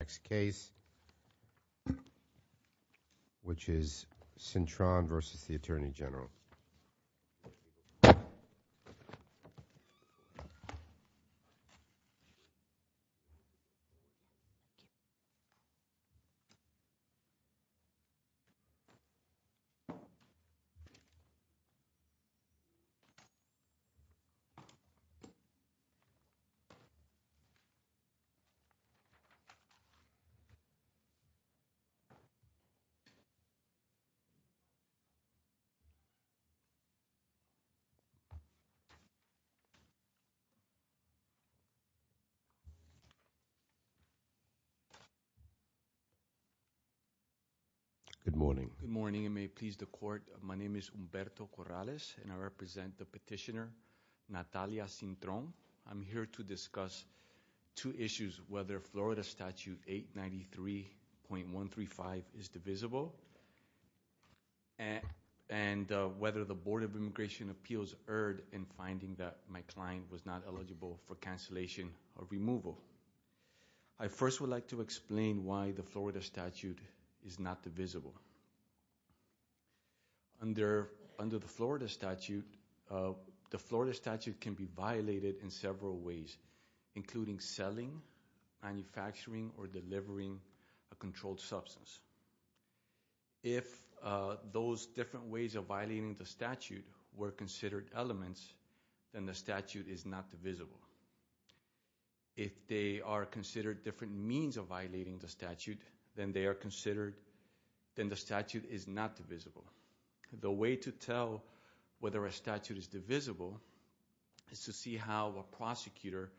Next case, which is Cintron v. U.S. Attorney General Good morning. Good morning, and may it please the court, my name is Humberto Corrales and I represent the petitioner Natalia Cintron. I'm here to discuss two issues, whether Florida statute 893.135 is divisible and whether the Board of Immigration Appeals erred in finding that my client was not eligible for cancellation or removal. I first would like to explain why the Florida statute is not divisible. Under the Florida statute, the statute is not divisible. The way to tell whether a statute is divisible is to see how a prosecutor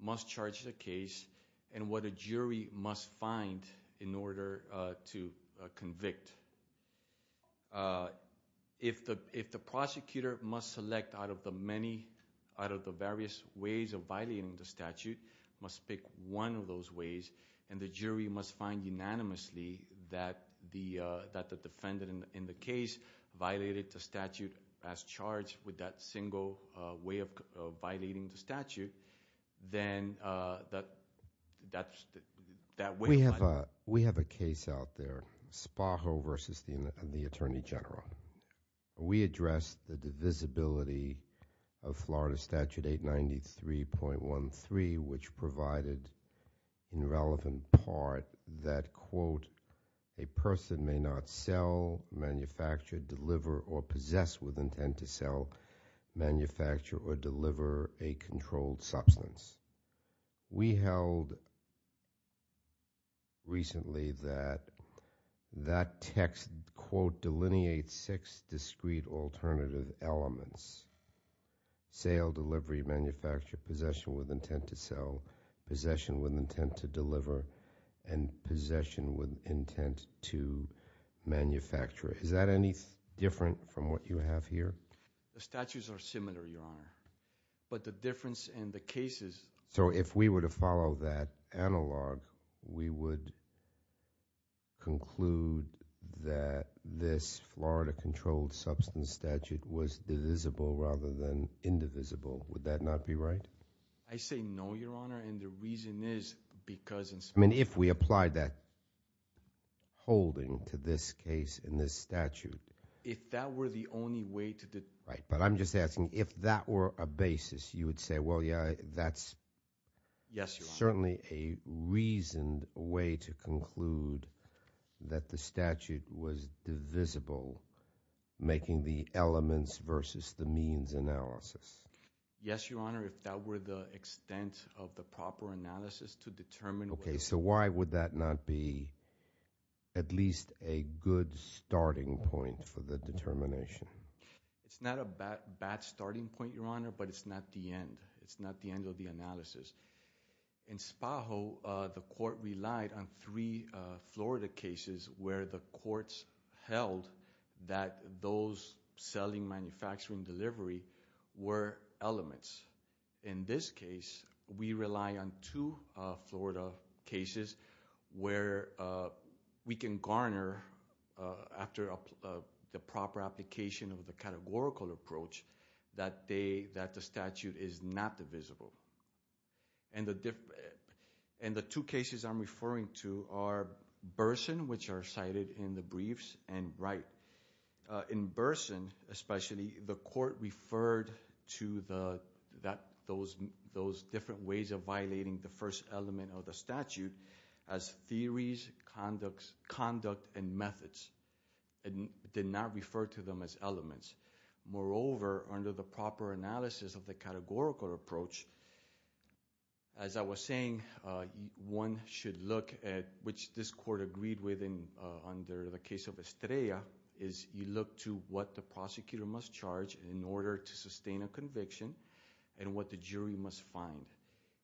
must charge the case and what a jury must find in order to convict. If the prosecutor must select out of the various ways of violating the statute, must pick one of those ways, and the jury must find unanimously that the defendant in the case violated the statute, then that way of finding- We have a case out there, Sparrow v. the Attorney General. We addressed the divisibility of Florida statute 893.13, which provided in relevant part that, quote, a person may not sell, manufacture, deliver, or possess with intent to sell, manufacture, or deliver a controlled substance. We held recently that that text, quote, delineates six discrete alternative elements, sale, delivery, manufacture, possession with intent to sell, possession with intent to deliver, and possession with intent to manufacture. Is that any different from what you have here? The statutes are similar, Your Honor, but the difference in the cases- So if we were to follow that analog, we would conclude that this Florida controlled substance statute was divisible rather than indivisible. Would that not be right? I say no, Your Honor, and the reason is because- I mean, if we applied that holding to this case in this statute- If that were the only way to- Right, but I'm just asking, if that were a basis, you would say, well, yeah, that's- Yes, Your Honor. Certainly a reasoned way to conclude that the statute was divisible, making the elements versus the means analysis. Yes, Your Honor, if that were the extent of the proper analysis to determine- Okay, so why would that not be at least a good starting point for the determination? It's not a bad starting point, Your Honor, but it's not the end. It's not the end of the analysis. In Spajo, the court relied on three Florida cases where the courts held that those selling manufacturing delivery were elements. In this case, we rely on two Florida cases where we can garner, after the proper application of the categorical approach, that the statute is not divisible, and the two cases I'm referring to are Burson, which are cited in the briefs, and Wright. In Burson, especially, the court referred to those different ways of violating the first element of the statute as theories, conduct, and methods, and did not refer to them as elements. Moreover, under the proper analysis of the categorical approach, as I was saying, one should look at, which this court agreed with under the case of Estrella, is you look to what the prosecutor must charge in order to sustain a conviction, and what the jury must find.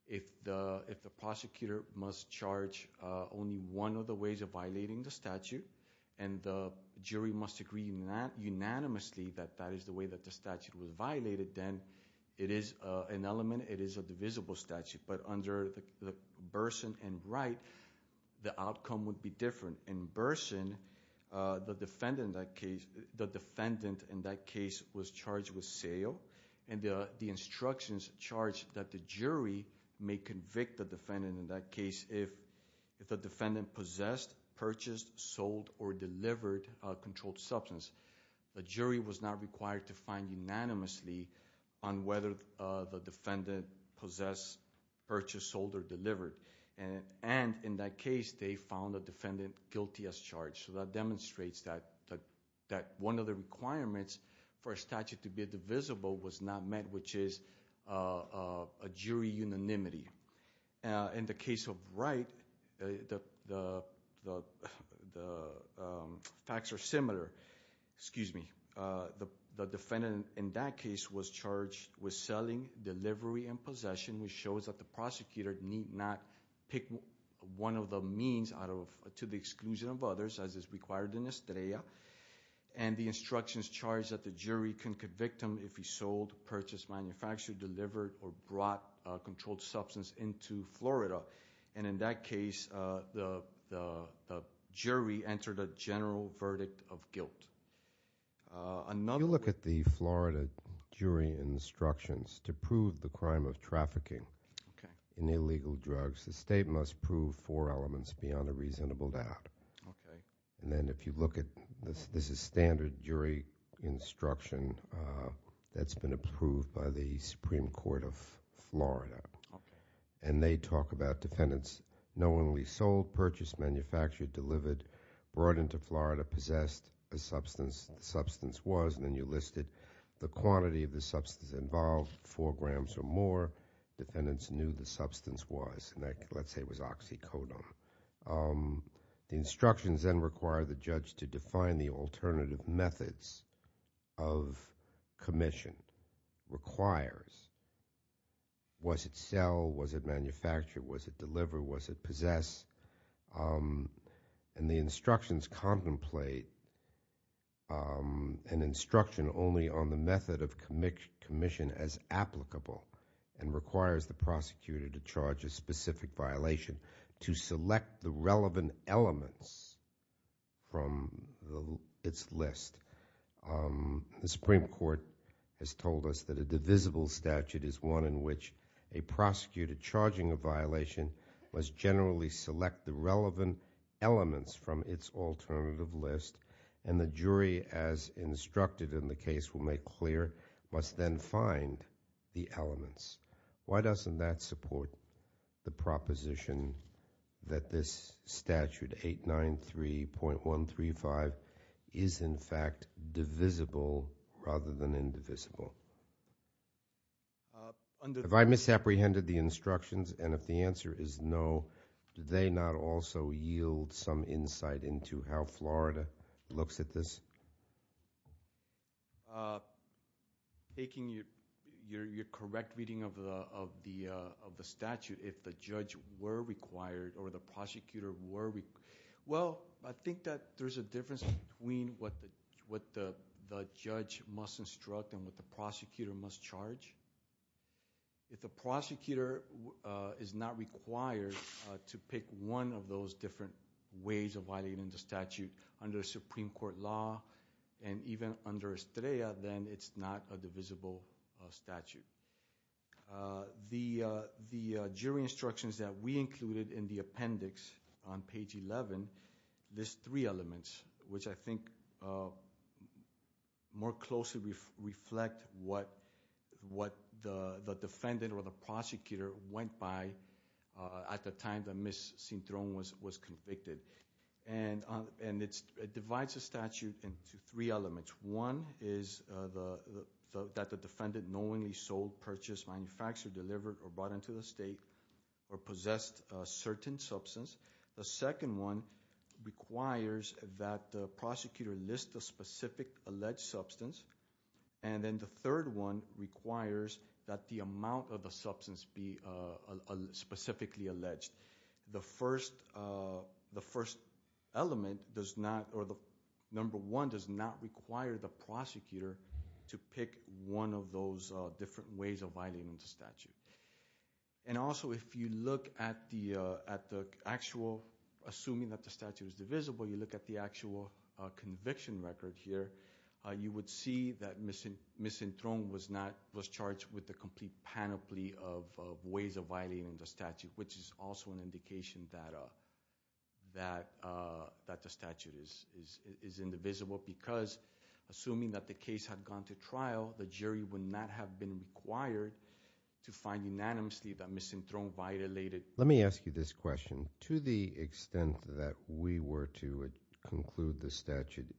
If the prosecutor must charge only one of the ways of violating the statute, and the jury must agree unanimously that that is the way that the statute was violated, then it is an element, it is a divisible statute, but under the Burson and Wright, the outcome would be different. In Burson, the defendant in that case was charged with sale, and the instructions charged that the jury may convict the defendant in that case if the defendant possessed, purchased, sold, or delivered a controlled substance. The jury was not required to find unanimously on whether the defendant possessed, purchased, sold, or delivered, and in that case, they found the defendant guilty as charged. So that demonstrates that one of the requirements for a statute to be divisible was not met, which is a jury unanimity. In the case of Wright, the facts are similar. Excuse me, the defendant in that case was charged with selling, delivery, and possession, which shows that the prosecutor need not pick one of the means to the exclusion of others, as is required in Estrella, and the instructions charged that the jury can convict him if he sold, purchased, manufactured, delivered, or brought a controlled substance into Florida. And in that case, the jury entered a general verdict of guilt. Another- You look at the Florida jury instructions to prove the crime of trafficking in illegal drugs. The state must prove four elements beyond a reasonable doubt. Okay. And then if you look at, this is standard jury instruction that's been approved by the Supreme Court of Florida. And they talk about defendants knowingly sold, purchased, manufactured, delivered, brought into Florida, possessed a substance, the substance was, and then you listed the quantity of the substance involved, four grams or more, defendants knew the substance was, and let's say it was oxycodone. The instructions then require the judge to define the alternative methods of commission. Requires, was it sell, was it manufacture, was it deliver, was it possess? And the instructions contemplate an instruction only on the method of commission as applicable. And requires the prosecutor to charge a specific violation to select the relevant elements from its list. The Supreme Court has told us that a divisible statute is one in which a prosecutor charging a violation must generally select the relevant elements from its alternative list. And the jury, as instructed in the case, will make clear, must then find the elements. Why doesn't that support the proposition that this statute 893.135 is, in fact, divisible rather than indivisible? If I misapprehended the instructions, and if the answer is no, do they not also yield some insight into how Florida looks at this? Taking your correct reading of the statute, if the judge were required or the prosecutor were, well, I think that there's a difference between what the judge must instruct and what the prosecutor must charge. If the prosecutor is not required to pick one of those different ways of violating the statute under a Supreme Court law, and even under Estrella, then it's not a divisible statute. The jury instructions that we included in the appendix on page 11, this three elements, which I think more closely reflect what the defendant or the prosecutor went by at the time that Ms. Cintron was convicted, and it divides the statute into three elements. One is that the defendant knowingly sold, purchased, manufactured, delivered, or brought into the state, or possessed a certain substance. The second one requires that the prosecutor list the specific alleged substance. And then the third one requires that the amount of the substance be specifically alleged. The first element does not, or the number one does not require the prosecutor to pick one of those different ways of violating the statute. And also, if you look at the actual, assuming that the statute is divisible, you look at the actual conviction record here, you would see that Ms. Cintron was charged with the complete panoply of ways of violating the statute. Which is also an indication that the statute is indivisible, because assuming that the case had gone to trial, the jury would not have been required to find unanimously that Ms. Cintron violated- Let me ask you this question. To the extent that we were to conclude the statute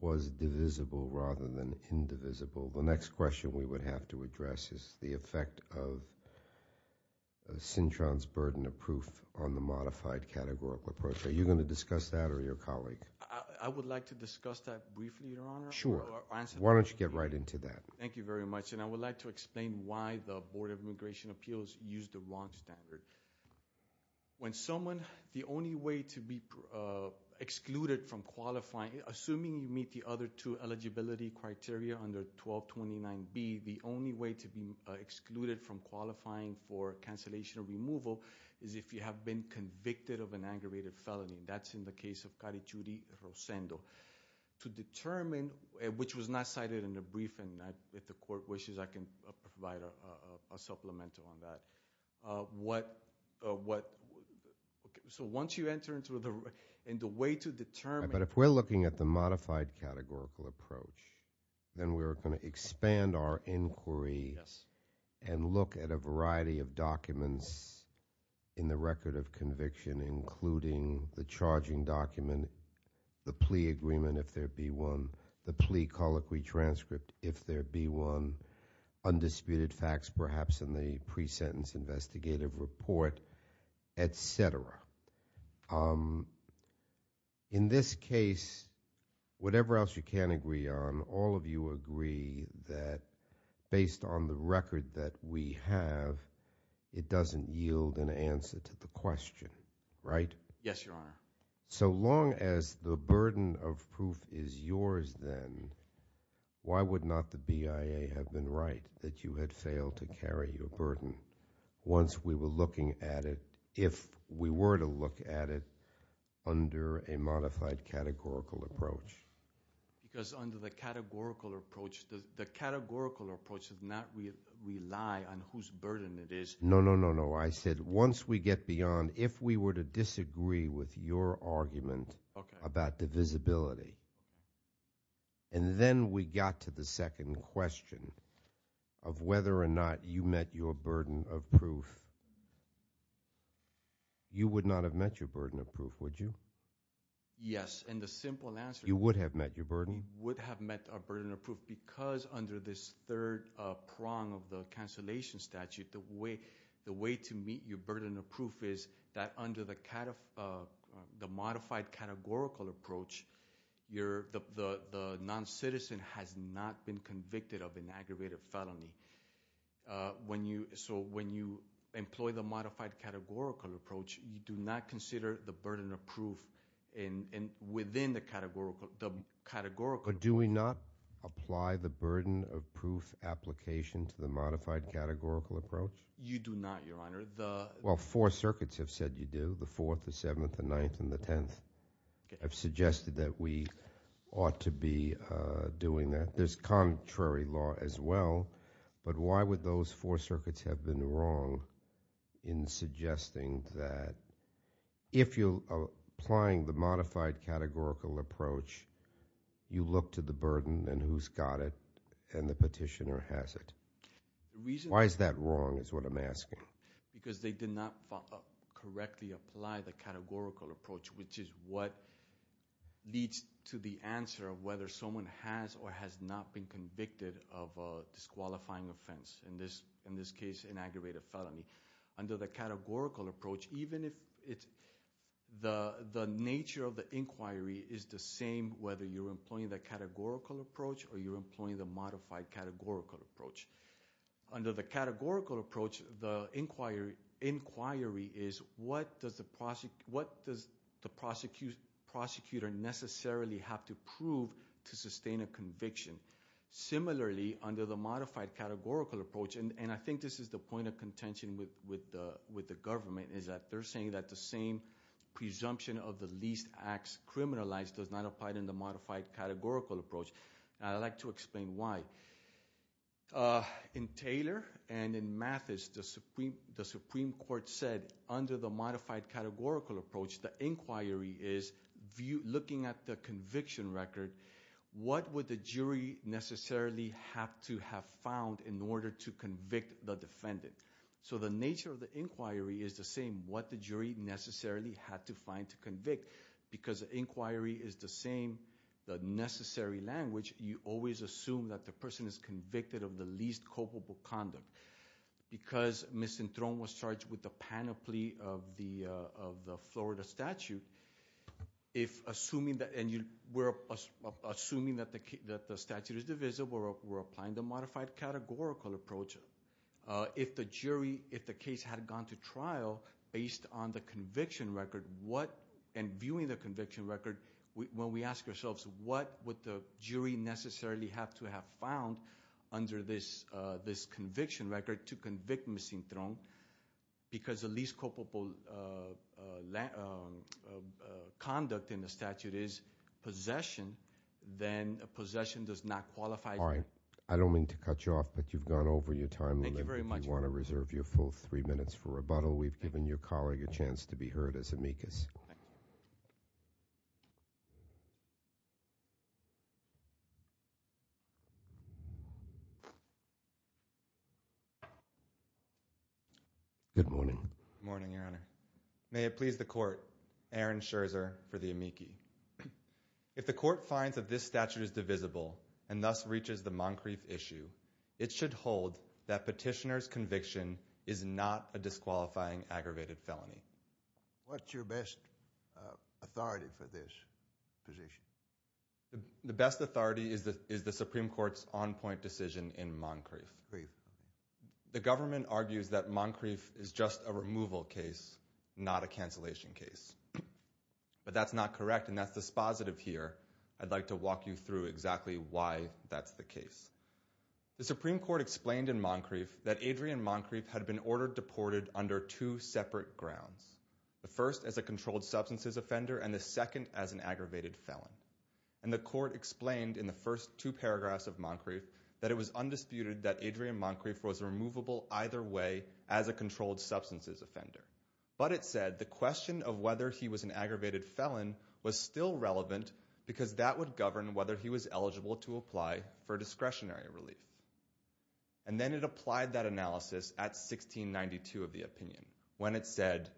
was divisible rather than indivisible. The next question we would have to address is the effect of Cintron's burden of proof on the modified categorical approach. Are you going to discuss that or your colleague? I would like to discuss that briefly, Your Honor. Sure. Why don't you get right into that? Thank you very much. And I would like to explain why the Board of Immigration Appeals used the wrong standard. When someone, the only way to be excluded from qualifying, assuming you meet the other two eligibility criteria under 1229B, the only way to be excluded from qualifying for cancellation or removal is if you have been convicted of an aggravated felony. That's in the case of Carichuri Rosendo. To determine, which was not cited in the briefing, if the court wishes I can provide a supplemental on that. So once you enter into the way to determine- But if we're looking at the modified categorical approach, then we're going to expand our inquiry and look at a variety of documents in the record of conviction including the charging document, the plea agreement if there be one, the plea colloquy transcript if there be one, undisputed facts perhaps in the pre-sentence investigative report, etc. In this case, whatever else you can agree on, all of you agree that based on the record that we have, it doesn't yield an answer to the question, right? Yes, Your Honor. So long as the burden of proof is yours then, why would not the BIA have been right that you had failed to carry your burden? Once we were looking at it, if we were to look at it under a modified categorical approach. Because under the categorical approach, the categorical approach does not rely on whose burden it is. No, no, no, no. I said once we get beyond, if we were to disagree with your argument about divisibility. And then we got to the second question of whether or not you met your burden of proof. You would not have met your burden of proof, would you? Yes, and the simple answer- You would have met your burden? Would have met our burden of proof because under this third prong of the cancellation statute, the way to meet your burden of proof is that under the modified categorical approach, the non-citizen has not been convicted of an aggravated felony. So when you employ the modified categorical approach, you do not consider the burden of proof within the categorical approach. Do we not apply the burden of proof application to the modified categorical approach? You do not, your honor. Well, four circuits have said you do, the fourth, the seventh, the ninth, and the tenth. I've suggested that we ought to be doing that. There's contrary law as well, but why would those four circuits have been wrong in suggesting that if you're applying the modified categorical approach, you look to the burden and who's got it, and the petitioner has it? The reason- Why is that wrong is what I'm asking. Because they did not correctly apply the categorical approach, which is what leads to the answer of whether someone has or has not been convicted of a disqualifying offense. In this case, an aggravated felony. Inquiry is the same whether you're employing the categorical approach or you're employing the modified categorical approach. Under the categorical approach, the inquiry is, what does the prosecutor necessarily have to prove to sustain a conviction? Similarly, under the modified categorical approach, and I think this is the point of contention with the government, is that they're saying that the same presumption of the least acts criminalized does not apply in the modified categorical approach. I'd like to explain why. In Taylor and in Mathis, the Supreme Court said, under the modified categorical approach, the inquiry is looking at the conviction record. What would the jury necessarily have to have found in order to convict the defendant? So the nature of the inquiry is the same, what the jury necessarily had to find to convict. Because inquiry is the same, the necessary language, you always assume that the person is convicted of the least culpable conduct. Because Ms. Enthron was charged with the panoply of the Florida statute, if assuming that the statute is divisible, we're applying the modified categorical approach. If the jury, if the case had gone to trial based on the conviction record, what, and viewing the conviction record, when we ask ourselves, what would the jury necessarily have to have found under this conviction record to convict Ms. Enthron? Because the least culpable conduct in the statute is possession, then possession does not qualify. All right, I don't mean to cut you off, but you've gone over your time limit. If you want to reserve your full three minutes for rebuttal, we've given your colleague a chance to be heard as amicus. Good morning. Good morning, Your Honor. May it please the court, Aaron Scherzer for the amici. If the court finds that this statute is divisible and thus reaches the Moncrief issue, it should hold that petitioner's conviction is not a disqualifying aggravated felony. What's your best authority for this position? The best authority is the Supreme Court's on-point decision in Moncrief. The government argues that Moncrief is just a removal case, not a cancellation case. But that's not correct, and that's dispositive here. I'd like to walk you through exactly why that's the case. The Supreme Court explained in Moncrief that Adrienne Moncrief had been ordered deported under two separate grounds, the first as a controlled substances offender and the second as an aggravated felon. And the court explained in the first two paragraphs of Moncrief that it was undisputed that Adrienne Moncrief was removable either way as a controlled substances offender. But it said the question of whether he was an aggravated felon was still relevant because that would govern whether he was eligible to apply for discretionary relief. And then it applied that analysis at 1692 of the opinion when it said,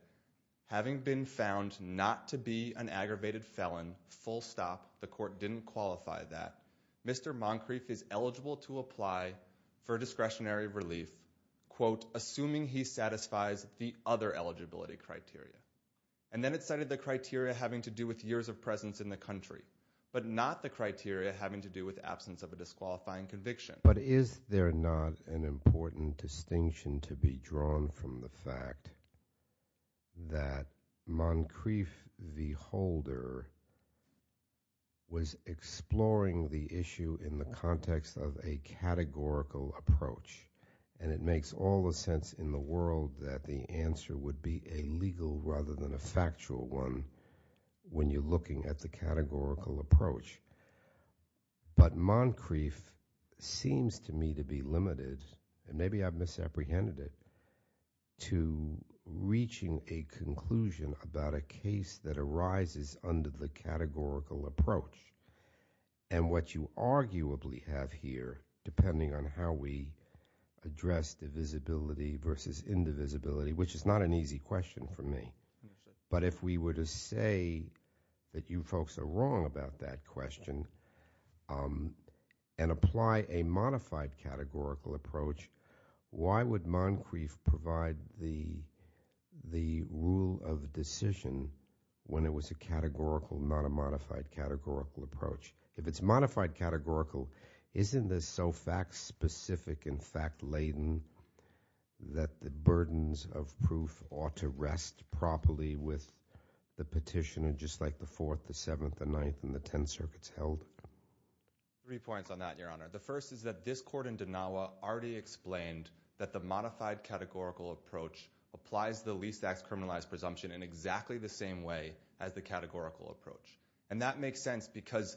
having been found not to be an aggravated felon, full stop, the court didn't qualify that, Mr. Moncrief is eligible to apply for discretionary relief, quote, assuming he satisfies the other eligibility criteria. And then it cited the criteria having to do with years of presence in the country, but not the criteria having to do with absence of a disqualifying conviction. But is there not an important distinction to be drawn from the fact that Moncrief, the holder, was exploring the issue in the context of a categorical approach, and it makes all the sense in the world that the answer would be a legal rather than a factual one when you're looking at the categorical approach. But Moncrief seems to me to be limited, and maybe I've misapprehended it, to reaching a conclusion about a case that arises under the categorical approach. And what you arguably have here, depending on how we address divisibility versus indivisibility, which is not an easy question for me, but if we were to say that you folks are wrong about that question and apply a modified categorical approach, why would Moncrief provide the rule of decision when it was a categorical, not a modified categorical approach? If it's modified categorical, isn't this so fact-specific and fact-laden that the burdens of proof ought to rest properly with the petitioner, just like the Fourth, the Seventh, the Ninth, and the Tenth Circuits held? Three points on that, Your Honor. The first is that this court in Denawa already explained that the modified categorical approach applies the least-acts criminalized presumption in exactly the same way as the categorical approach. And that makes sense because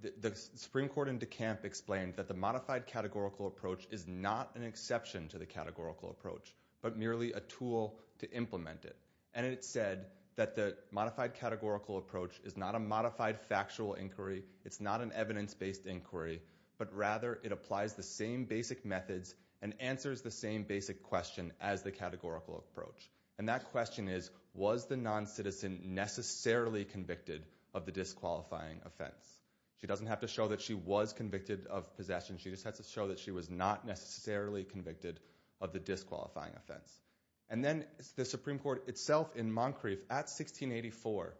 the Supreme Court in DeKalb explained that the modified categorical approach is not an exception to the categorical approach, but merely a tool to implement it. And it said that the modified categorical approach is not a modified factual inquiry, it's not an evidence-based inquiry, but rather it applies the same basic methods and answers the same basic question as the categorical approach. And that question is, was the non-citizen necessarily convicted of the disqualifying offense? She doesn't have to show that she was convicted of possession, she just has to show that she was not necessarily convicted of the disqualifying offense. And then the Supreme Court itself in Moncrief at 1684,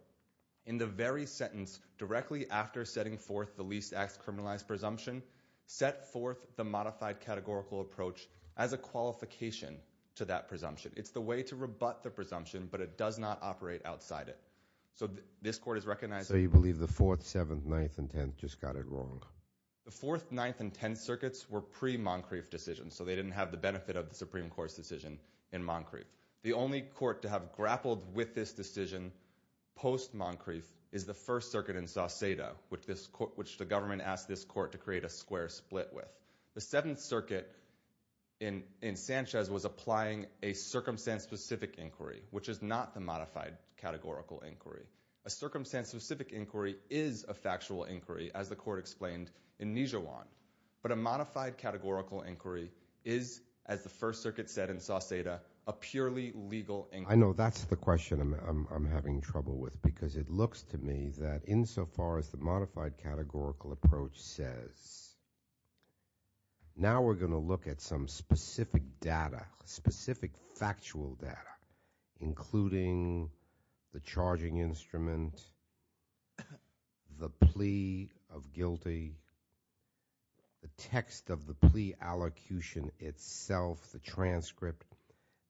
in the very sentence directly after setting forth the least-acts criminalized presumption, set forth the modified categorical approach as a qualification to that presumption. It's the way to rebut the presumption, but it does not operate outside it. So this court has recognized that. So you believe the Fourth, Seventh, Ninth, and Tenth just got it wrong? The Fourth, Ninth, and Tenth circuits were pre-Moncrief decisions, so they didn't have the benefit of the Supreme Court's decision in Moncrief. The only court to have grappled with this decision post-Moncrief is the First Circuit in Sauceda, which the government asked this court to create a square split with. The Seventh Circuit in Sanchez was applying a circumstance-specific inquiry, which is not the modified categorical inquiry. A circumstance-specific inquiry is a factual inquiry, as the court explained in Nijewan. But a modified categorical inquiry is, as the First Circuit said in Sauceda, a purely legal inquiry. I know that's the question I'm having trouble with, because it looks to me that insofar as the modified categorical approach says, now we're going to look at some specific data, specific factual data, including the charging instrument, the plea of guilty, the text of the plea allocution itself, the transcript.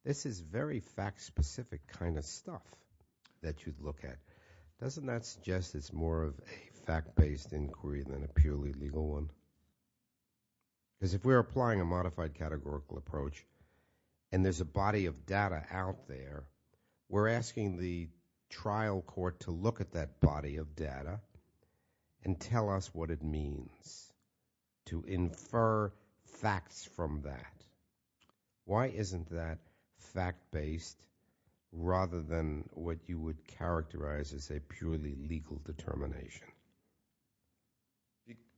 This is very fact-specific kind of stuff that you'd look at. Doesn't that suggest it's more of a fact-based inquiry than a purely legal one? Because if we're applying a modified categorical approach and there's a body of data out there, we're asking the trial court to look at that body of data and tell us what it means to infer facts from that. Why isn't that fact-based rather than what you would characterize as a purely legal determination?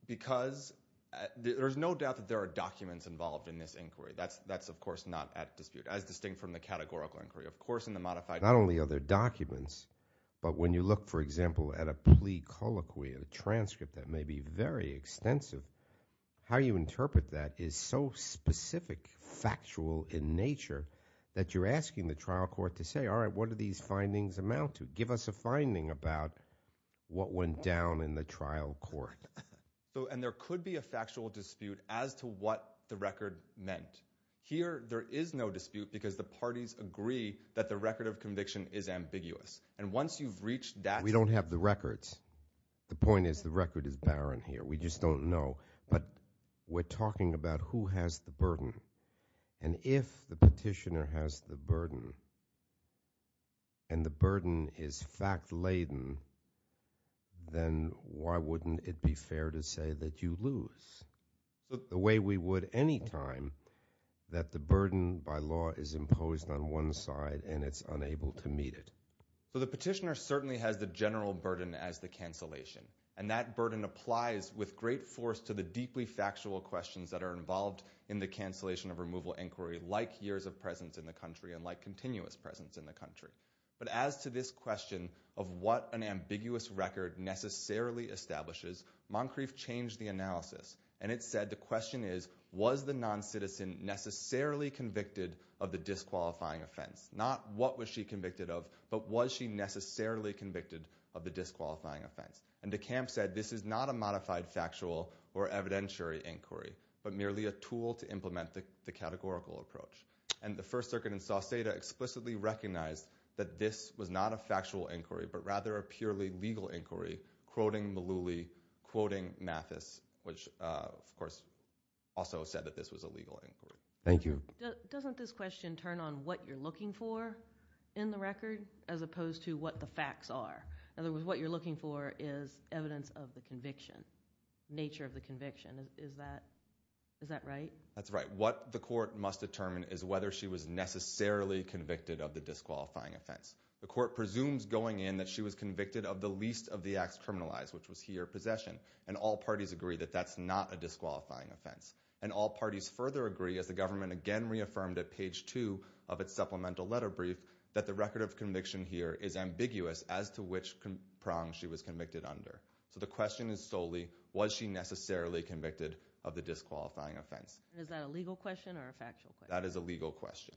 Because there's no doubt that there are documents involved in this inquiry. That's of course not at dispute, as distinct from the categorical inquiry. Of course in the modified- Not only are there documents, but when you look, for example, at a plea colloquy, a transcript that may be very extensive, how you interpret that is so specific, factual in nature that you're asking the trial court to say, all right, what do these findings amount to? Give us a finding about what went down in the trial court. And there could be a factual dispute as to what the record meant. Here, there is no dispute because the parties agree that the record of conviction is ambiguous. And once you've reached that- We don't have the records. The point is the record is barren here. We just don't know. But we're talking about who has the burden. And if the petitioner has the burden, and the burden is fact-laden, then why wouldn't it be fair to say that you lose? The way we would any time that the burden by law is imposed on one side and it's unable to meet it. So the petitioner certainly has the general burden as the cancellation. And that burden applies with great force to the deeply factual questions that are involved in the cancellation of removal inquiry, like years of presence in the country and like continuous presence in the country. But as to this question of what an ambiguous record necessarily establishes, Moncrief changed the analysis. And it said the question is, was the non-citizen necessarily convicted of the disqualifying offense? Not what was she convicted of, but was she necessarily convicted of the disqualifying offense? And DeKalb said this is not a modified factual or evidentiary inquiry, but merely a tool to implement the categorical approach. And the First Circuit in Sauceda explicitly recognized that this was not a factual inquiry, but rather a purely legal inquiry, quoting Mullooly, quoting Mathis, which of course also said that this was a legal inquiry. Thank you. Doesn't this question turn on what you're looking for in the record as opposed to what the facts are? In other words, what you're looking for is evidence of the conviction, nature of the conviction. Is that right? That's right. What the court must determine is whether she was necessarily convicted of the disqualifying offense. The court presumes going in that she was convicted of the least of the acts criminalized, which was he or possession. And all parties agree that that's not a disqualifying offense. And all parties further agree, as the government again reaffirmed at page two of its supplemental letter brief, that the record of conviction here is ambiguous as to which prong she was convicted under. So the question is solely, was she necessarily convicted of the disqualifying offense? Is that a legal question or a factual question? That is a legal question.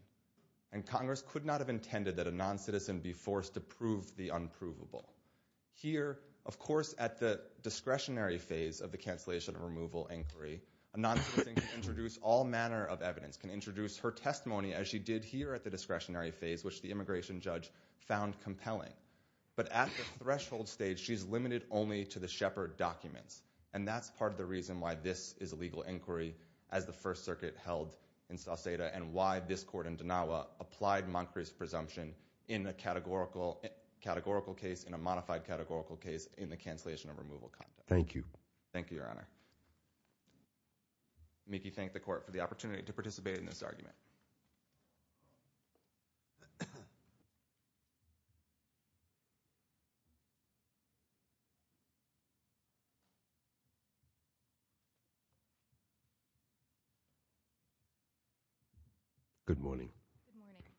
And Congress could not have intended that a noncitizen be forced to prove the unprovable. Here, of course, at the discretionary phase of the cancellation and removal inquiry, a noncitizen can introduce all manner of evidence, can introduce her testimony as she did here at the discretionary phase, which the immigration judge found compelling. But at the threshold stage, she's limited only to the Shepard documents. And that's part of the reason why this is a legal inquiry as the First Circuit held in Sauceda and why this court in Denawa applied Moncrief's presumption in a categorical case, in a modified categorical case, in the cancellation and removal context. Thank you. Thank you, Your Honor. Make you thank the court for the opportunity to participate in this argument. Good morning. Good morning.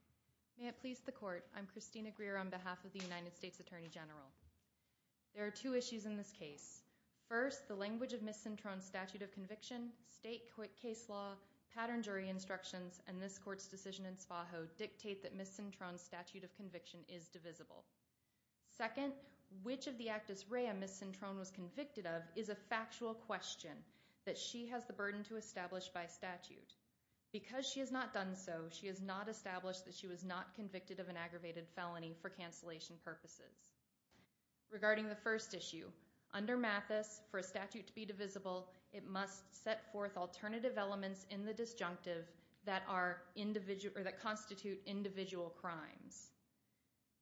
May it please the court. I'm Christina Greer on behalf of the United States Attorney General. There are two issues in this case. First, the language of Ms. Cintron's statute of conviction, state case law, pattern jury instructions, and this court's decision in Spajo dictate that Ms. Cintron's statute of conviction is divisible. Second, which of the actus rea Ms. Cintron was convicted of is a factual question that she has the burden to establish by statute. Because she has not done so, she has not established that she was not convicted of an aggravated felony for cancellation purposes. Regarding the first issue, under Mathis, for a statute to be divisible, it must set forth alternative elements in the disjunctive that constitute individual crimes.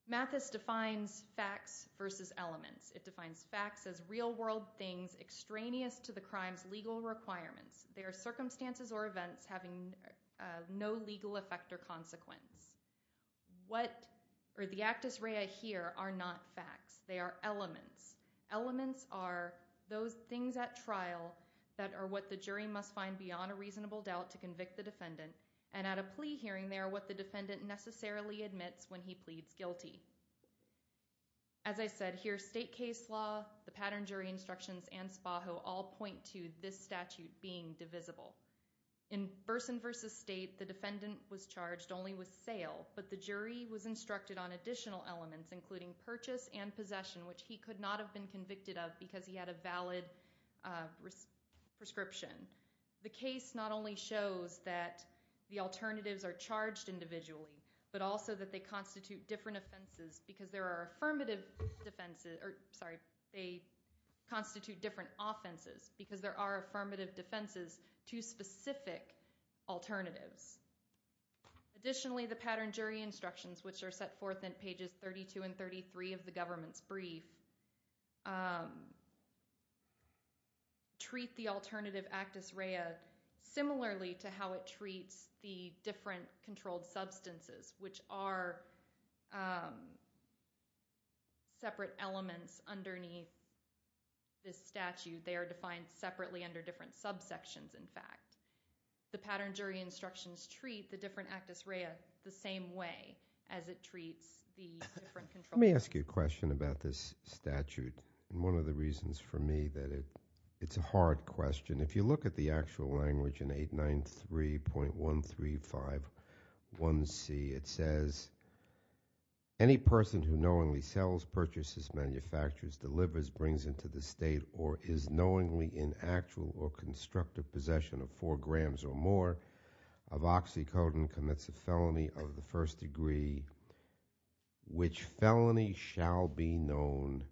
Mathis defines facts versus elements. It defines facts as real world things extraneous to the crime's legal requirements. They are circumstances or events having no legal effect or consequence. The actus rea here are not facts. They are elements. Elements are those things at trial that are what the jury must find beyond a reasonable doubt to convict the defendant. And at a plea hearing, they are what the defendant necessarily admits when he pleads guilty. As I said here, state case law, the pattern jury instructions, and Spajo all point to this statute being divisible. In Berson v. State, the defendant was charged only with sale, but the jury was instructed on additional elements including purchase and possession, which he could not have been convicted of because he had a valid prescription. The case not only shows that the alternatives are charged individually, but also that they constitute different offenses because there are affirmative defenses, sorry, they constitute different offenses because there are affirmative defenses to specific alternatives. Additionally, the pattern jury instructions, which are set forth in pages 32 and 33 of the government's brief, treat the alternative actus rea similarly to how it treats the different controlled substances, which are separate elements underneath this statute. They are defined separately under different subsections, in fact. The pattern jury instructions treat the different actus rea the same way as it treats the different controlled substances. Let me ask you a question about this statute, and one of the reasons for me that it's a hard question. If you look at the actual language in 893.1351C, it says any person who knowingly sells, purchases, manufactures, delivers, brings into the state, or is knowingly in actual or constructive possession of four grams or more of oxycodone commits a felony of the first degree, which felony shall be known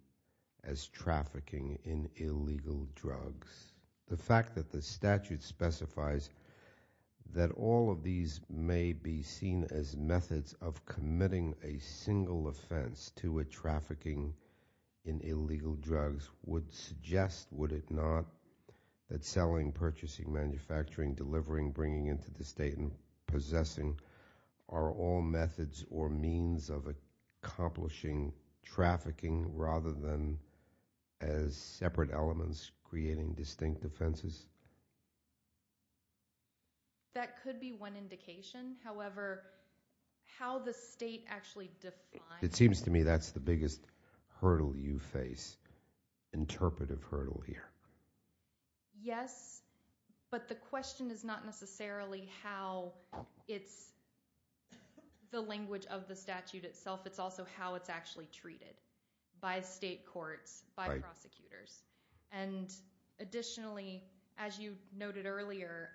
as trafficking in illegal drugs. The fact that the statute specifies that all of these may be seen as methods of committing a single offense to a trafficking in illegal drugs would suggest, would it not, that selling, purchasing, manufacturing, delivering, bringing into the state, and possessing are all methods or means of accomplishing trafficking rather than as separate elements creating distinct offenses? That could be one indication. However, how the state actually defines- It seems to me that's the biggest hurdle you face, interpretive hurdle here. Yes, but the question is not necessarily how it's the language of the statute itself, it's also how it's actually treated by state courts, by prosecutors. And additionally, as you noted earlier,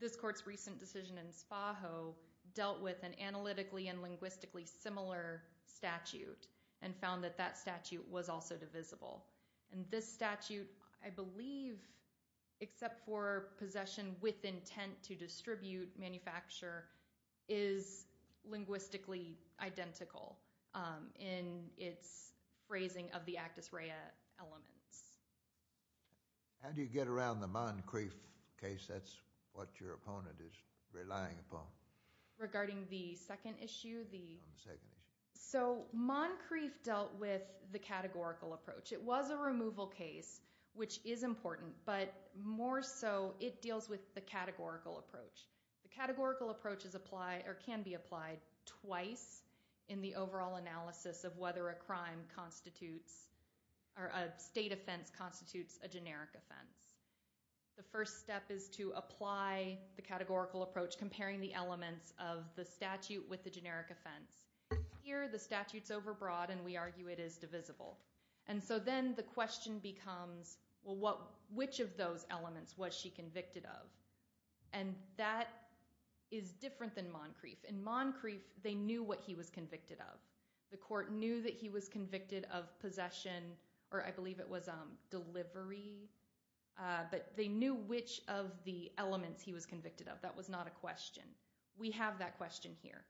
this court's recent decision in Spaho dealt with an analytically and linguistically similar statute and found that that statute was also divisible. And this statute, I believe, except for possession with intent to distribute, manufacture, is linguistically identical in its phrasing of the Actus Rea elements. How do you get around the Moncrief case? That's what your opponent is relying upon. Regarding the second issue, the- On the second issue. So, Moncrief dealt with the categorical approach. It was a removal case, which is important, but more so it deals with the categorical approach. The categorical approach can be applied twice in the overall analysis of whether a crime constitutes- or a state offense constitutes a generic offense. The first step is to apply the categorical approach comparing the elements of the statute with the generic offense. Here, the statute's overbroad and we argue it is divisible. And so then the question becomes, well, which of those elements was she convicted of? And that is different than Moncrief. In Moncrief, they knew what he was convicted of. The court knew that he was convicted of possession, or I believe it was delivery, but they knew which of the elements he was convicted of. That was not a question. We have that question here.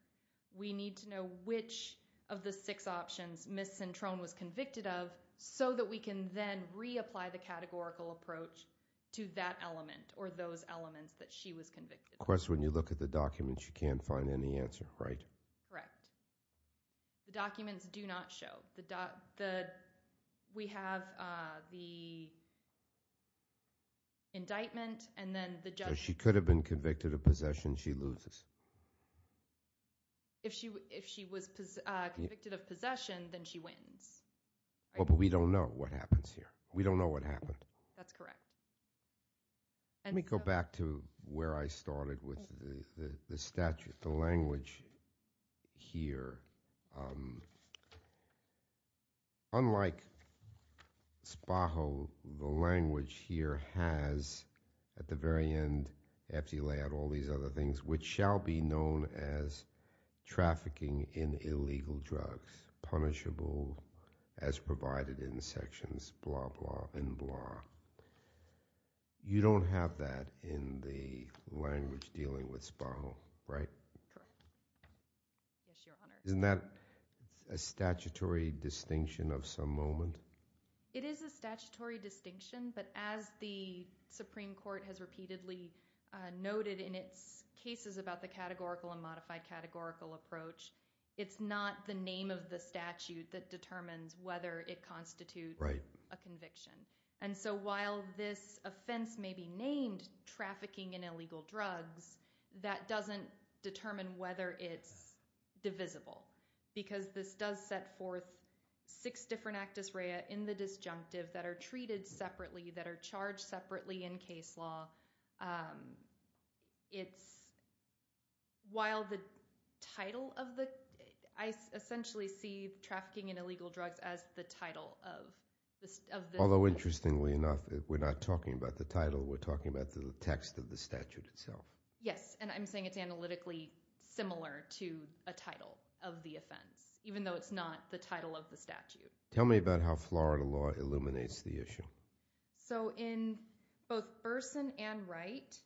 We need to know which of the six options Ms. Cintron was convicted of so that we can then reapply the categorical approach to that element or those elements that she was convicted of. Of course, when you look at the documents, you can't find any answer, right? Correct. The documents do not show. We have the indictment and then the judge- If she was convicted of possession, she loses. If she was convicted of possession, then she wins. But we don't know what happens here. We don't know what happened. That's correct. Let me go back to where I started with the statute, the language here. Unlike SPAHO, the language here has, at the very end, after you lay out all these other things, which shall be known as trafficking in illegal drugs, punishable as provided in sections, blah, blah, and blah. You don't have that in the language dealing with SPAHO, right? Correct. Yes, Your Honor. Isn't that a statutory distinction of some moment? It is a statutory distinction, but as the Supreme Court has repeatedly noted in its cases about the categorical and modified categorical approach, it's not the name of the statute that determines whether it constitutes a conviction. So while this offense may be named trafficking in illegal drugs, that doesn't determine whether it's divisible because this does set forth six different actus rea in the disjunctive that are treated separately, that are charged separately in case law. While the title of the – I essentially see trafficking in illegal drugs as the title of the statute. Although, interestingly enough, we're not talking about the title. We're talking about the text of the statute itself. Yes, and I'm saying it's analytically similar to a title of the offense, even though it's not the title of the statute. Tell me about how Florida law illuminates the issue. So in both Burson and Wright,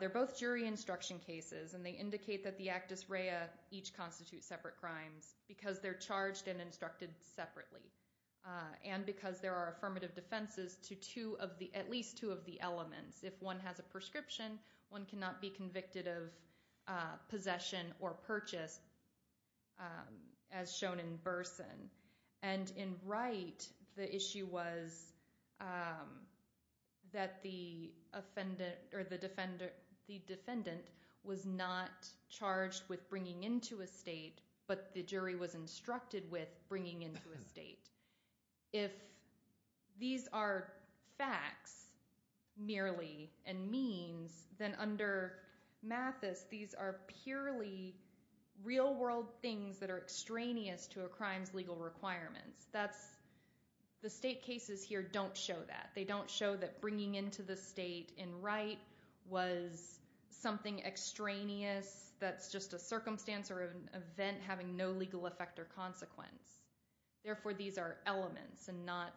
they're both jury instruction cases, and they indicate that the actus rea each constitutes separate crimes because they're charged and instructed separately and because there are affirmative defenses to at least two of the elements. If one has a prescription, one cannot be convicted of possession or purchase as shown in Burson. And in Wright, the issue was that the defendant was not charged with bringing into a state, but the jury was instructed with bringing into a state. If these are facts merely and means, then under Mathis, these are purely real-world things that are extraneous to a crime's legal requirements. The state cases here don't show that. was something extraneous that's just a circumstance or an event having no legal effect or consequence. Therefore, these are elements and not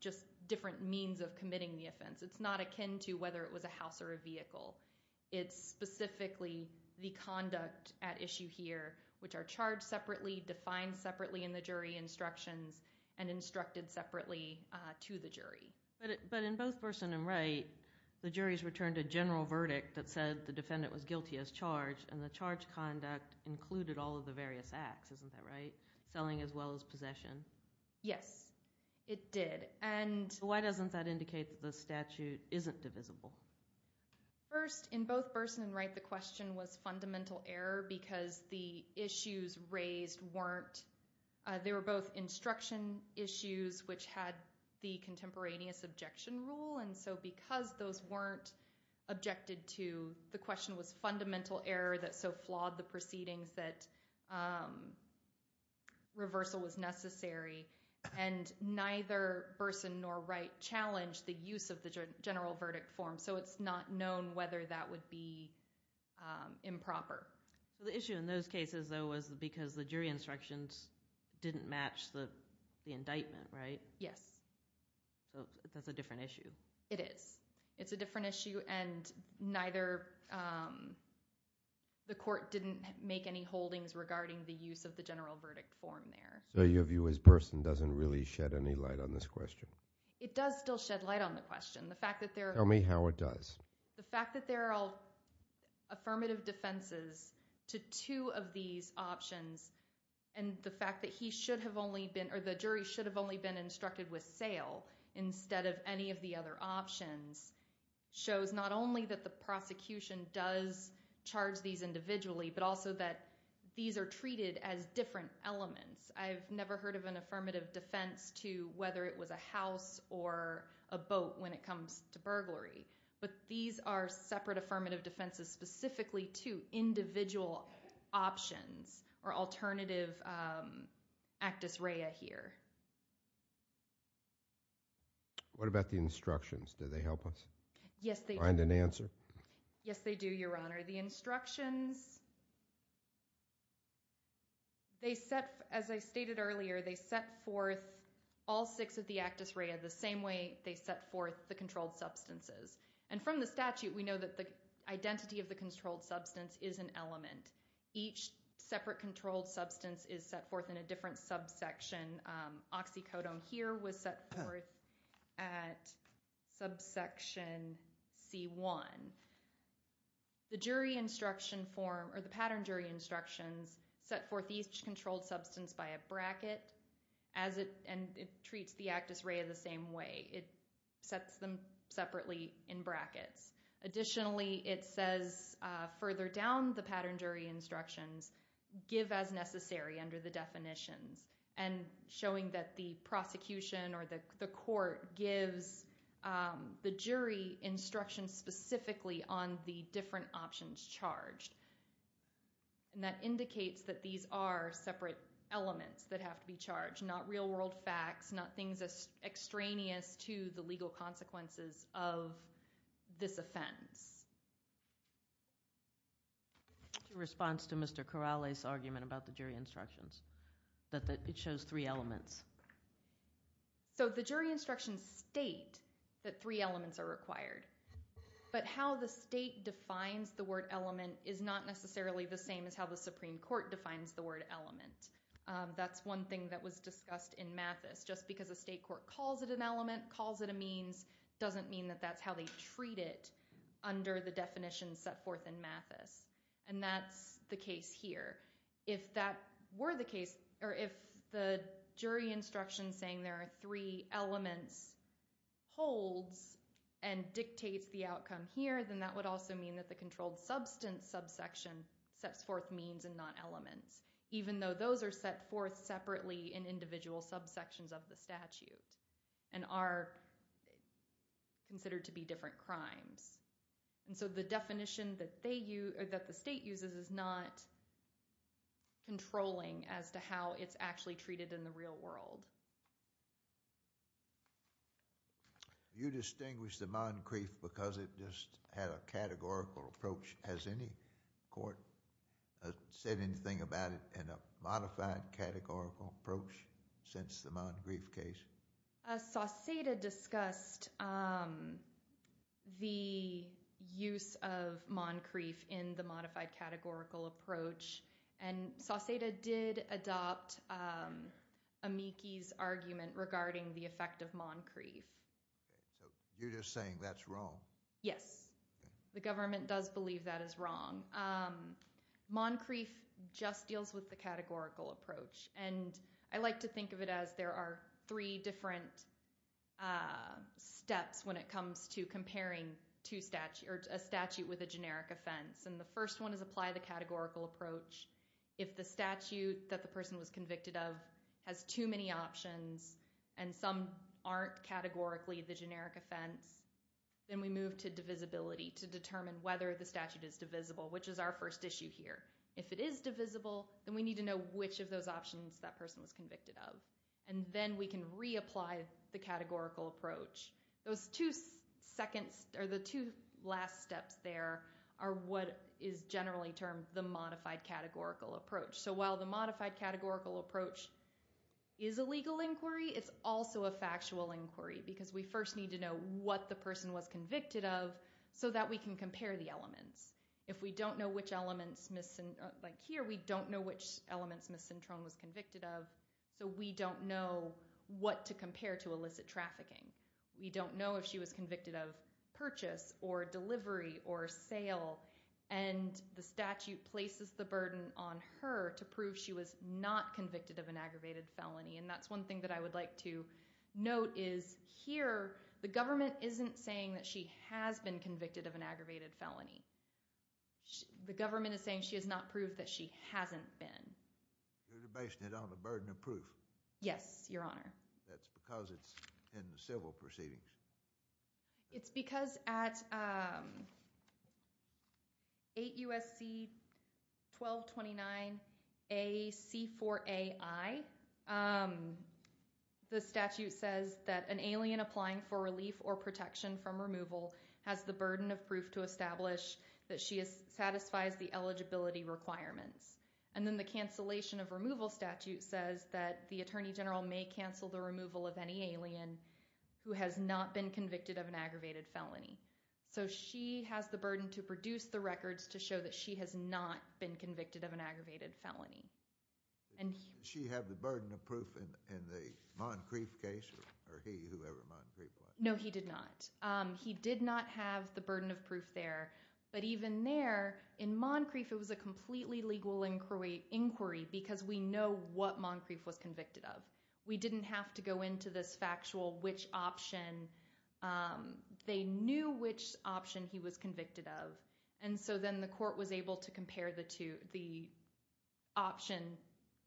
just different means of committing the offense. It's not akin to whether it was a house or a vehicle. It's specifically the conduct at issue here, which are charged separately, defined separately in the jury instructions, and instructed separately to the jury. But in both Burson and Wright, the juries returned a general verdict that said the defendant was guilty as charged, and the charged conduct included all of the various acts. Isn't that right? Selling as well as possession. Yes, it did. Why doesn't that indicate that the statute isn't divisible? First, in both Burson and Wright, the question was fundamental error because the issues raised weren't. They were both instruction issues, which had the contemporaneous objection rule, and so because those weren't objected to, the question was fundamental error that so flawed the proceedings that reversal was necessary. And neither Burson nor Wright challenged the use of the general verdict form, so it's not known whether that would be improper. The issue in those cases, though, was because the jury instructions didn't match the indictment, right? Yes. So that's a different issue. It is. It's a different issue, and neither the court didn't make any holdings regarding the use of the general verdict form there. So your view is Burson doesn't really shed any light on this question? It does still shed light on the question. Tell me how it does. The fact that there are affirmative defenses to two of these options and the fact that he should have only been or the jury should have only been instructed with sale instead of any of the other options shows not only that the prosecution does charge these individually, but also that these are treated as different elements. I've never heard of an affirmative defense to whether it was a house or a boat when it comes to burglary, but these are separate affirmative defenses specifically to individual options or alternative actus rea here. What about the instructions? Do they help us find an answer? Yes, they do, Your Honor. The instructions, as I stated earlier, they set forth all six of the actus rea the same way they set forth the controlled substances. And from the statute, we know that the identity of the controlled substance is an element. Each separate controlled substance is set forth in a different subsection. Oxycodone here was set forth at subsection C1. The jury instruction form or the pattern jury instructions set forth each controlled substance by a bracket and it treats the actus rea the same way. It sets them separately in brackets. Additionally, it says further down the pattern jury instructions, give as necessary under the definitions and showing that the prosecution or the court gives the jury instructions specifically on the different options charged. And that indicates that these are separate elements that have to be charged, not real world facts, not things extraneous to the legal consequences of this offense. What's your response to Mr. Corrales' argument about the jury instructions, that it shows three elements? So the jury instructions state that three elements are required, but how the state defines the word element is not necessarily the same as how the Supreme Court defines the word element. That's one thing that was discussed in Mathis. Just because a state court calls it an element, calls it a means, doesn't mean that that's how they treat it under the definitions set forth in Mathis. And that's the case here. If that were the case, or if the jury instructions saying there are three elements holds and dictates the outcome here, then that would also mean that the controlled substance subsection sets forth means and not elements, even though those are set forth separately in individual subsections of the statute and are considered to be different crimes. And so the definition that the state uses is not controlling as to how it's actually treated in the real world. You distinguish the Moncrief because it just had a categorical approach. Has any court said anything about it in a modified categorical approach since the Moncrief case? Sauceda discussed the use of Moncrief in the modified categorical approach. And Sauceda did adopt Amici's argument regarding the effect of Moncrief. You're just saying that's wrong? Yes. The government does believe that is wrong. Moncrief just deals with the categorical approach. And I like to think of it as there are three different steps when it comes to comparing a statute with a generic offense. And the first one is apply the categorical approach. If the statute that the person was convicted of has too many options and some aren't categorically the generic offense, then we move to divisibility to determine whether the statute is divisible, which is our first issue here. If it is divisible, then we need to know which of those options that person was convicted of. And then we can reapply the categorical approach. Those two last steps there are what is generally termed the modified categorical approach. So while the modified categorical approach is a legal inquiry, it's also a factual inquiry because we first need to know what the person was convicted of so that we can compare the elements. If we don't know which elements, like here, we don't know which elements Ms. Cintron was convicted of, so we don't know what to compare to illicit trafficking. We don't know if she was convicted of purchase or delivery or sale. And the statute places the burden on her to prove she was not convicted of an aggravated felony. And that's one thing that I would like to note is here the government isn't saying that she has been convicted of an aggravated felony. The government is saying she has not proved that she hasn't been. You're basing it on the burden of proof. Yes, Your Honor. That's because it's in the civil proceedings. It's because at 8 U.S.C. 1229 A.C. 4A.I., the statute says that an alien applying for relief or protection from removal has the burden of proof to establish that she satisfies the eligibility requirements. And then the cancellation of removal statute says that the attorney general may cancel the removal of any alien who has not been convicted of an aggravated felony. So she has the burden to produce the records to show that she has not been convicted of an aggravated felony. Did she have the burden of proof in the Moncrief case? Or he, whoever Moncrief was? No, he did not. He did not have the burden of proof there. But even there, in Moncrief it was a completely legal inquiry because we know what Moncrief was convicted of. We didn't have to go into this factual which option. They knew which option he was convicted of. And so then the court was able to compare the two, the option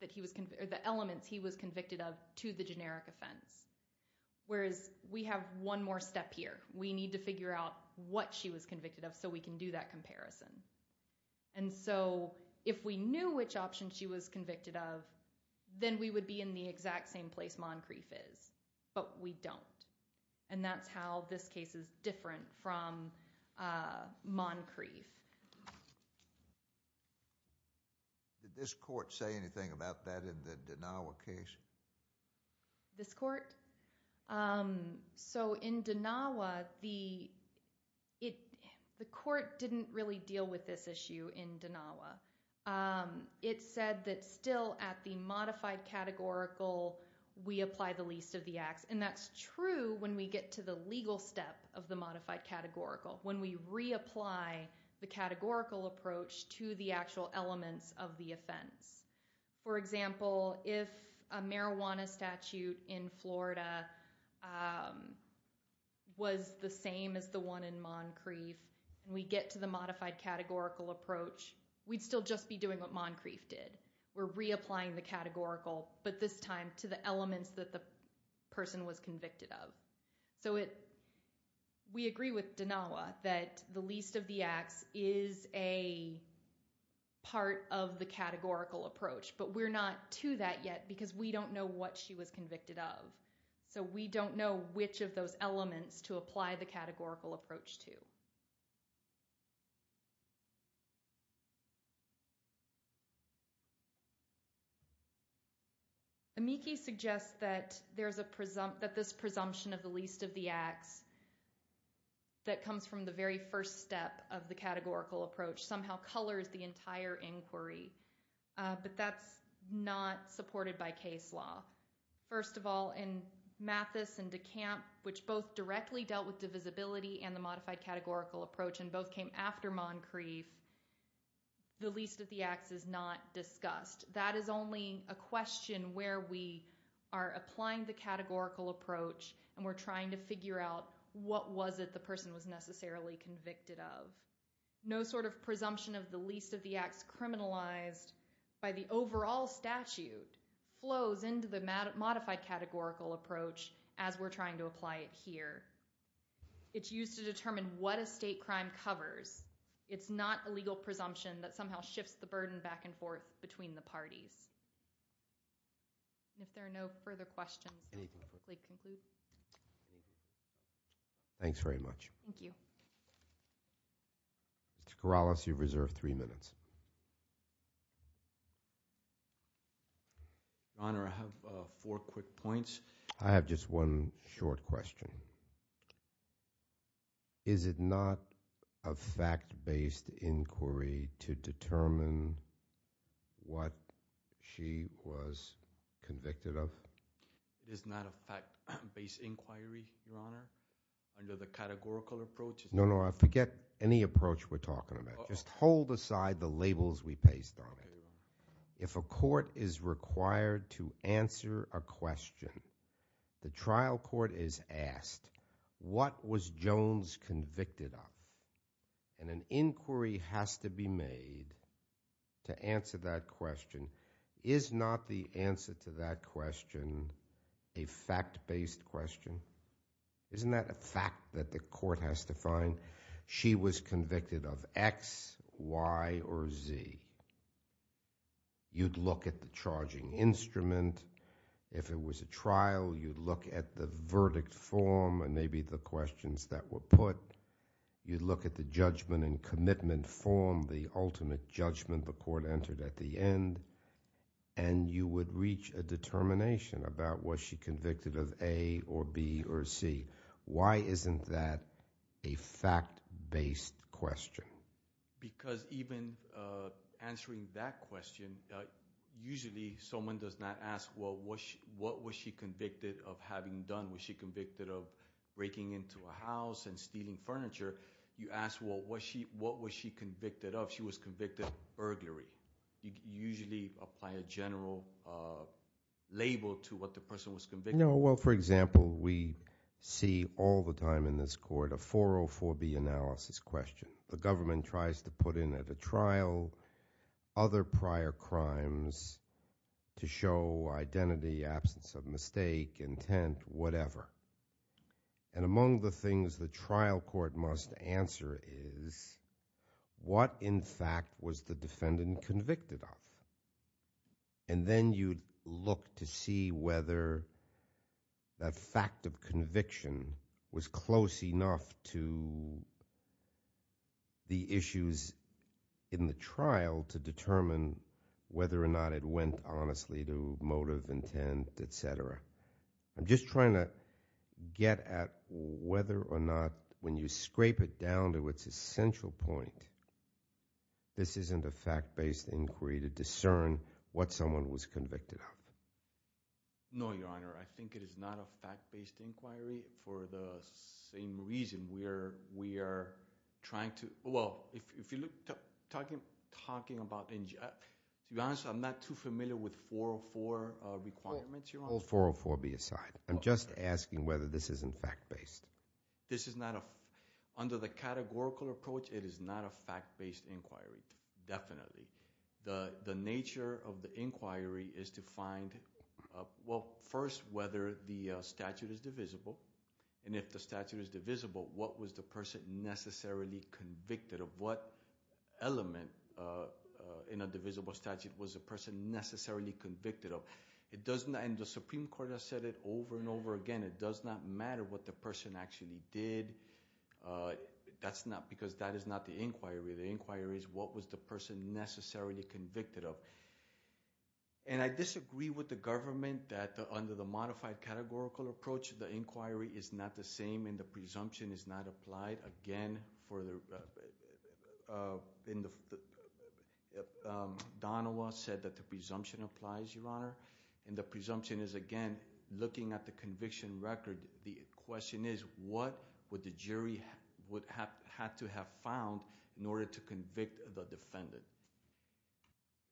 that he was, or the elements he was convicted of to the generic offense. Whereas we have one more step here. We need to figure out what she was convicted of so we can do that comparison. And so if we knew which option she was convicted of, then we would be in the exact same place Moncrief is. But we don't. And that's how this case is different from Moncrief. Did this court say anything about that in the Danawa case? This court? So in Danawa, the court didn't really deal with this issue in Danawa. It said that still at the modified categorical, we apply the least of the acts. And that's true when we get to the legal step of the modified categorical, when we reapply the categorical approach to the actual elements of the offense. For example, if a marijuana statute in Florida was the same as the one in Moncrief, and we get to the modified categorical approach, we'd still just be doing what Moncrief did. We're reapplying the categorical, but this time to the elements that the person was convicted of. So we agree with Danawa that the least of the acts is a part of the categorical approach, but we're not to that yet because we don't know what she was convicted of. So we don't know which of those elements to apply the categorical approach to. Amici suggests that this presumption of the least of the acts that comes from the very first step of the categorical approach somehow colors the entire inquiry, but that's not supported by case law. First of all, in Mathis and DeCamp, which both directly dealt with divisibility and the modified categorical approach and both came after Moncrief, the least of the acts is not discussed. That is only a question where we are applying the categorical approach and we're trying to figure out what was it the person was necessarily convicted of. No sort of presumption of the least of the acts criminalized by the overall statute flows into the modified categorical approach as we're trying to apply it here. It's used to determine what a state crime covers. It's not a legal presumption that somehow shifts the burden back and forth between the parties. If there are no further questions, I'll quickly conclude. Thanks very much. Thank you. Mr. Corrales, you've reserved three minutes. Your Honor, I have four quick points. I have just one short question. Is it not a fact-based inquiry to determine what she was convicted of? It is not a fact-based inquiry, Your Honor, under the categorical approach. No, no, I forget any approach we're talking about. Just hold aside the labels we pasted on it. If a court is required to answer a question, the trial court is asked, what was Jones convicted of? And an inquiry has to be made to answer that question. Is not the answer to that question a fact-based question? Isn't that a fact that the court has to find? She was convicted of X, Y, or Z. You'd look at the charging instrument. If it was a trial, you'd look at the verdict form and maybe the questions that were put. You'd look at the judgment and commitment form, the ultimate judgment the court entered at the end, and you would reach a determination about was she convicted of A or B or C. Why isn't that a fact-based question? Because even answering that question, usually someone does not ask, well, what was she convicted of having done? Was she convicted of breaking into a house and stealing furniture? You ask, well, what was she convicted of? She was convicted of burglary. You usually apply a general label to what the person was convicted of. No, well, for example, we see all the time in this court a 404B analysis question. The government tries to put in at a trial other prior crimes to show identity, absence of mistake, intent, whatever. And among the things the trial court must answer is what, in fact, was the defendant convicted of? And then you'd look to see whether that fact of conviction was close enough to the issues in the trial to determine whether or not it went honestly to motive, intent, et cetera. I'm just trying to get at whether or not when you scrape it down to its essential point, this isn't a fact-based inquiry to discern what someone was convicted of. No, Your Honor, I think it is not a fact-based inquiry for the same reason we are trying to, well, if you look, talking about, to be honest, I'm not too familiar with 404 requirements, Your Honor. Well, all 404B aside, I'm just asking whether this isn't fact-based. This is not a, under the categorical approach, it is not a fact-based inquiry, definitely. The nature of the inquiry is to find, well, first, whether the statute is divisible. And if the statute is divisible, what was the person necessarily convicted of? What element in a divisible statute was the person necessarily convicted of? And the Supreme Court has said it over and over again, it does not matter what the person actually did. That's not, because that is not the inquiry. The inquiry is what was the person necessarily convicted of? And I disagree with the government that under the modified categorical approach, the inquiry is not the same and the presumption is not applied. Again, for the, Donovan said that the presumption applies, Your Honor, and the presumption is, again, looking at the conviction record, the question is what would the jury would have to have found in order to convict the defendant?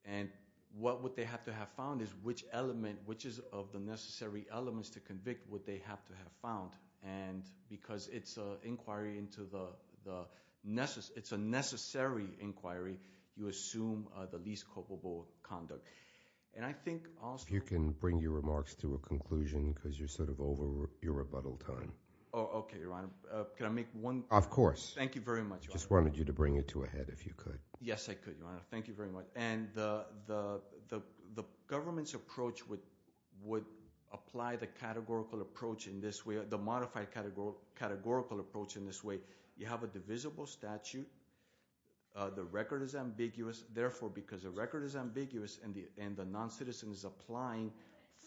And what would they have to have found is which element, which is of the necessary elements to convict would they have to have found? And because it's an inquiry into the, it's a necessary inquiry, you assume the least culpable conduct. And I think also... If you can bring your remarks to a conclusion because you're sort of over your rebuttal time. Oh, okay, Your Honor. Of course. Thank you very much. Just wanted you to bring it to a head if you could. Yes, I could, Your Honor. Thank you very much. And the government's approach would apply the categorical approach in this way, the modified categorical approach in this way. You have a divisible statute. The record is ambiguous. Therefore, because the record is ambiguous and the noncitizen is applying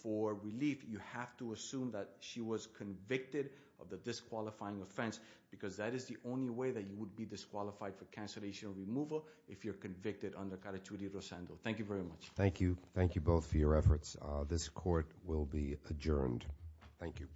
for relief, you have to assume that she was convicted of the disqualifying offense because that is the only way that you would be disqualified for cancellation removal if you're convicted under Carta 2D Rosendo. Thank you very much. Thank you. Thank you both for your efforts. This court will be adjourned. Thank you.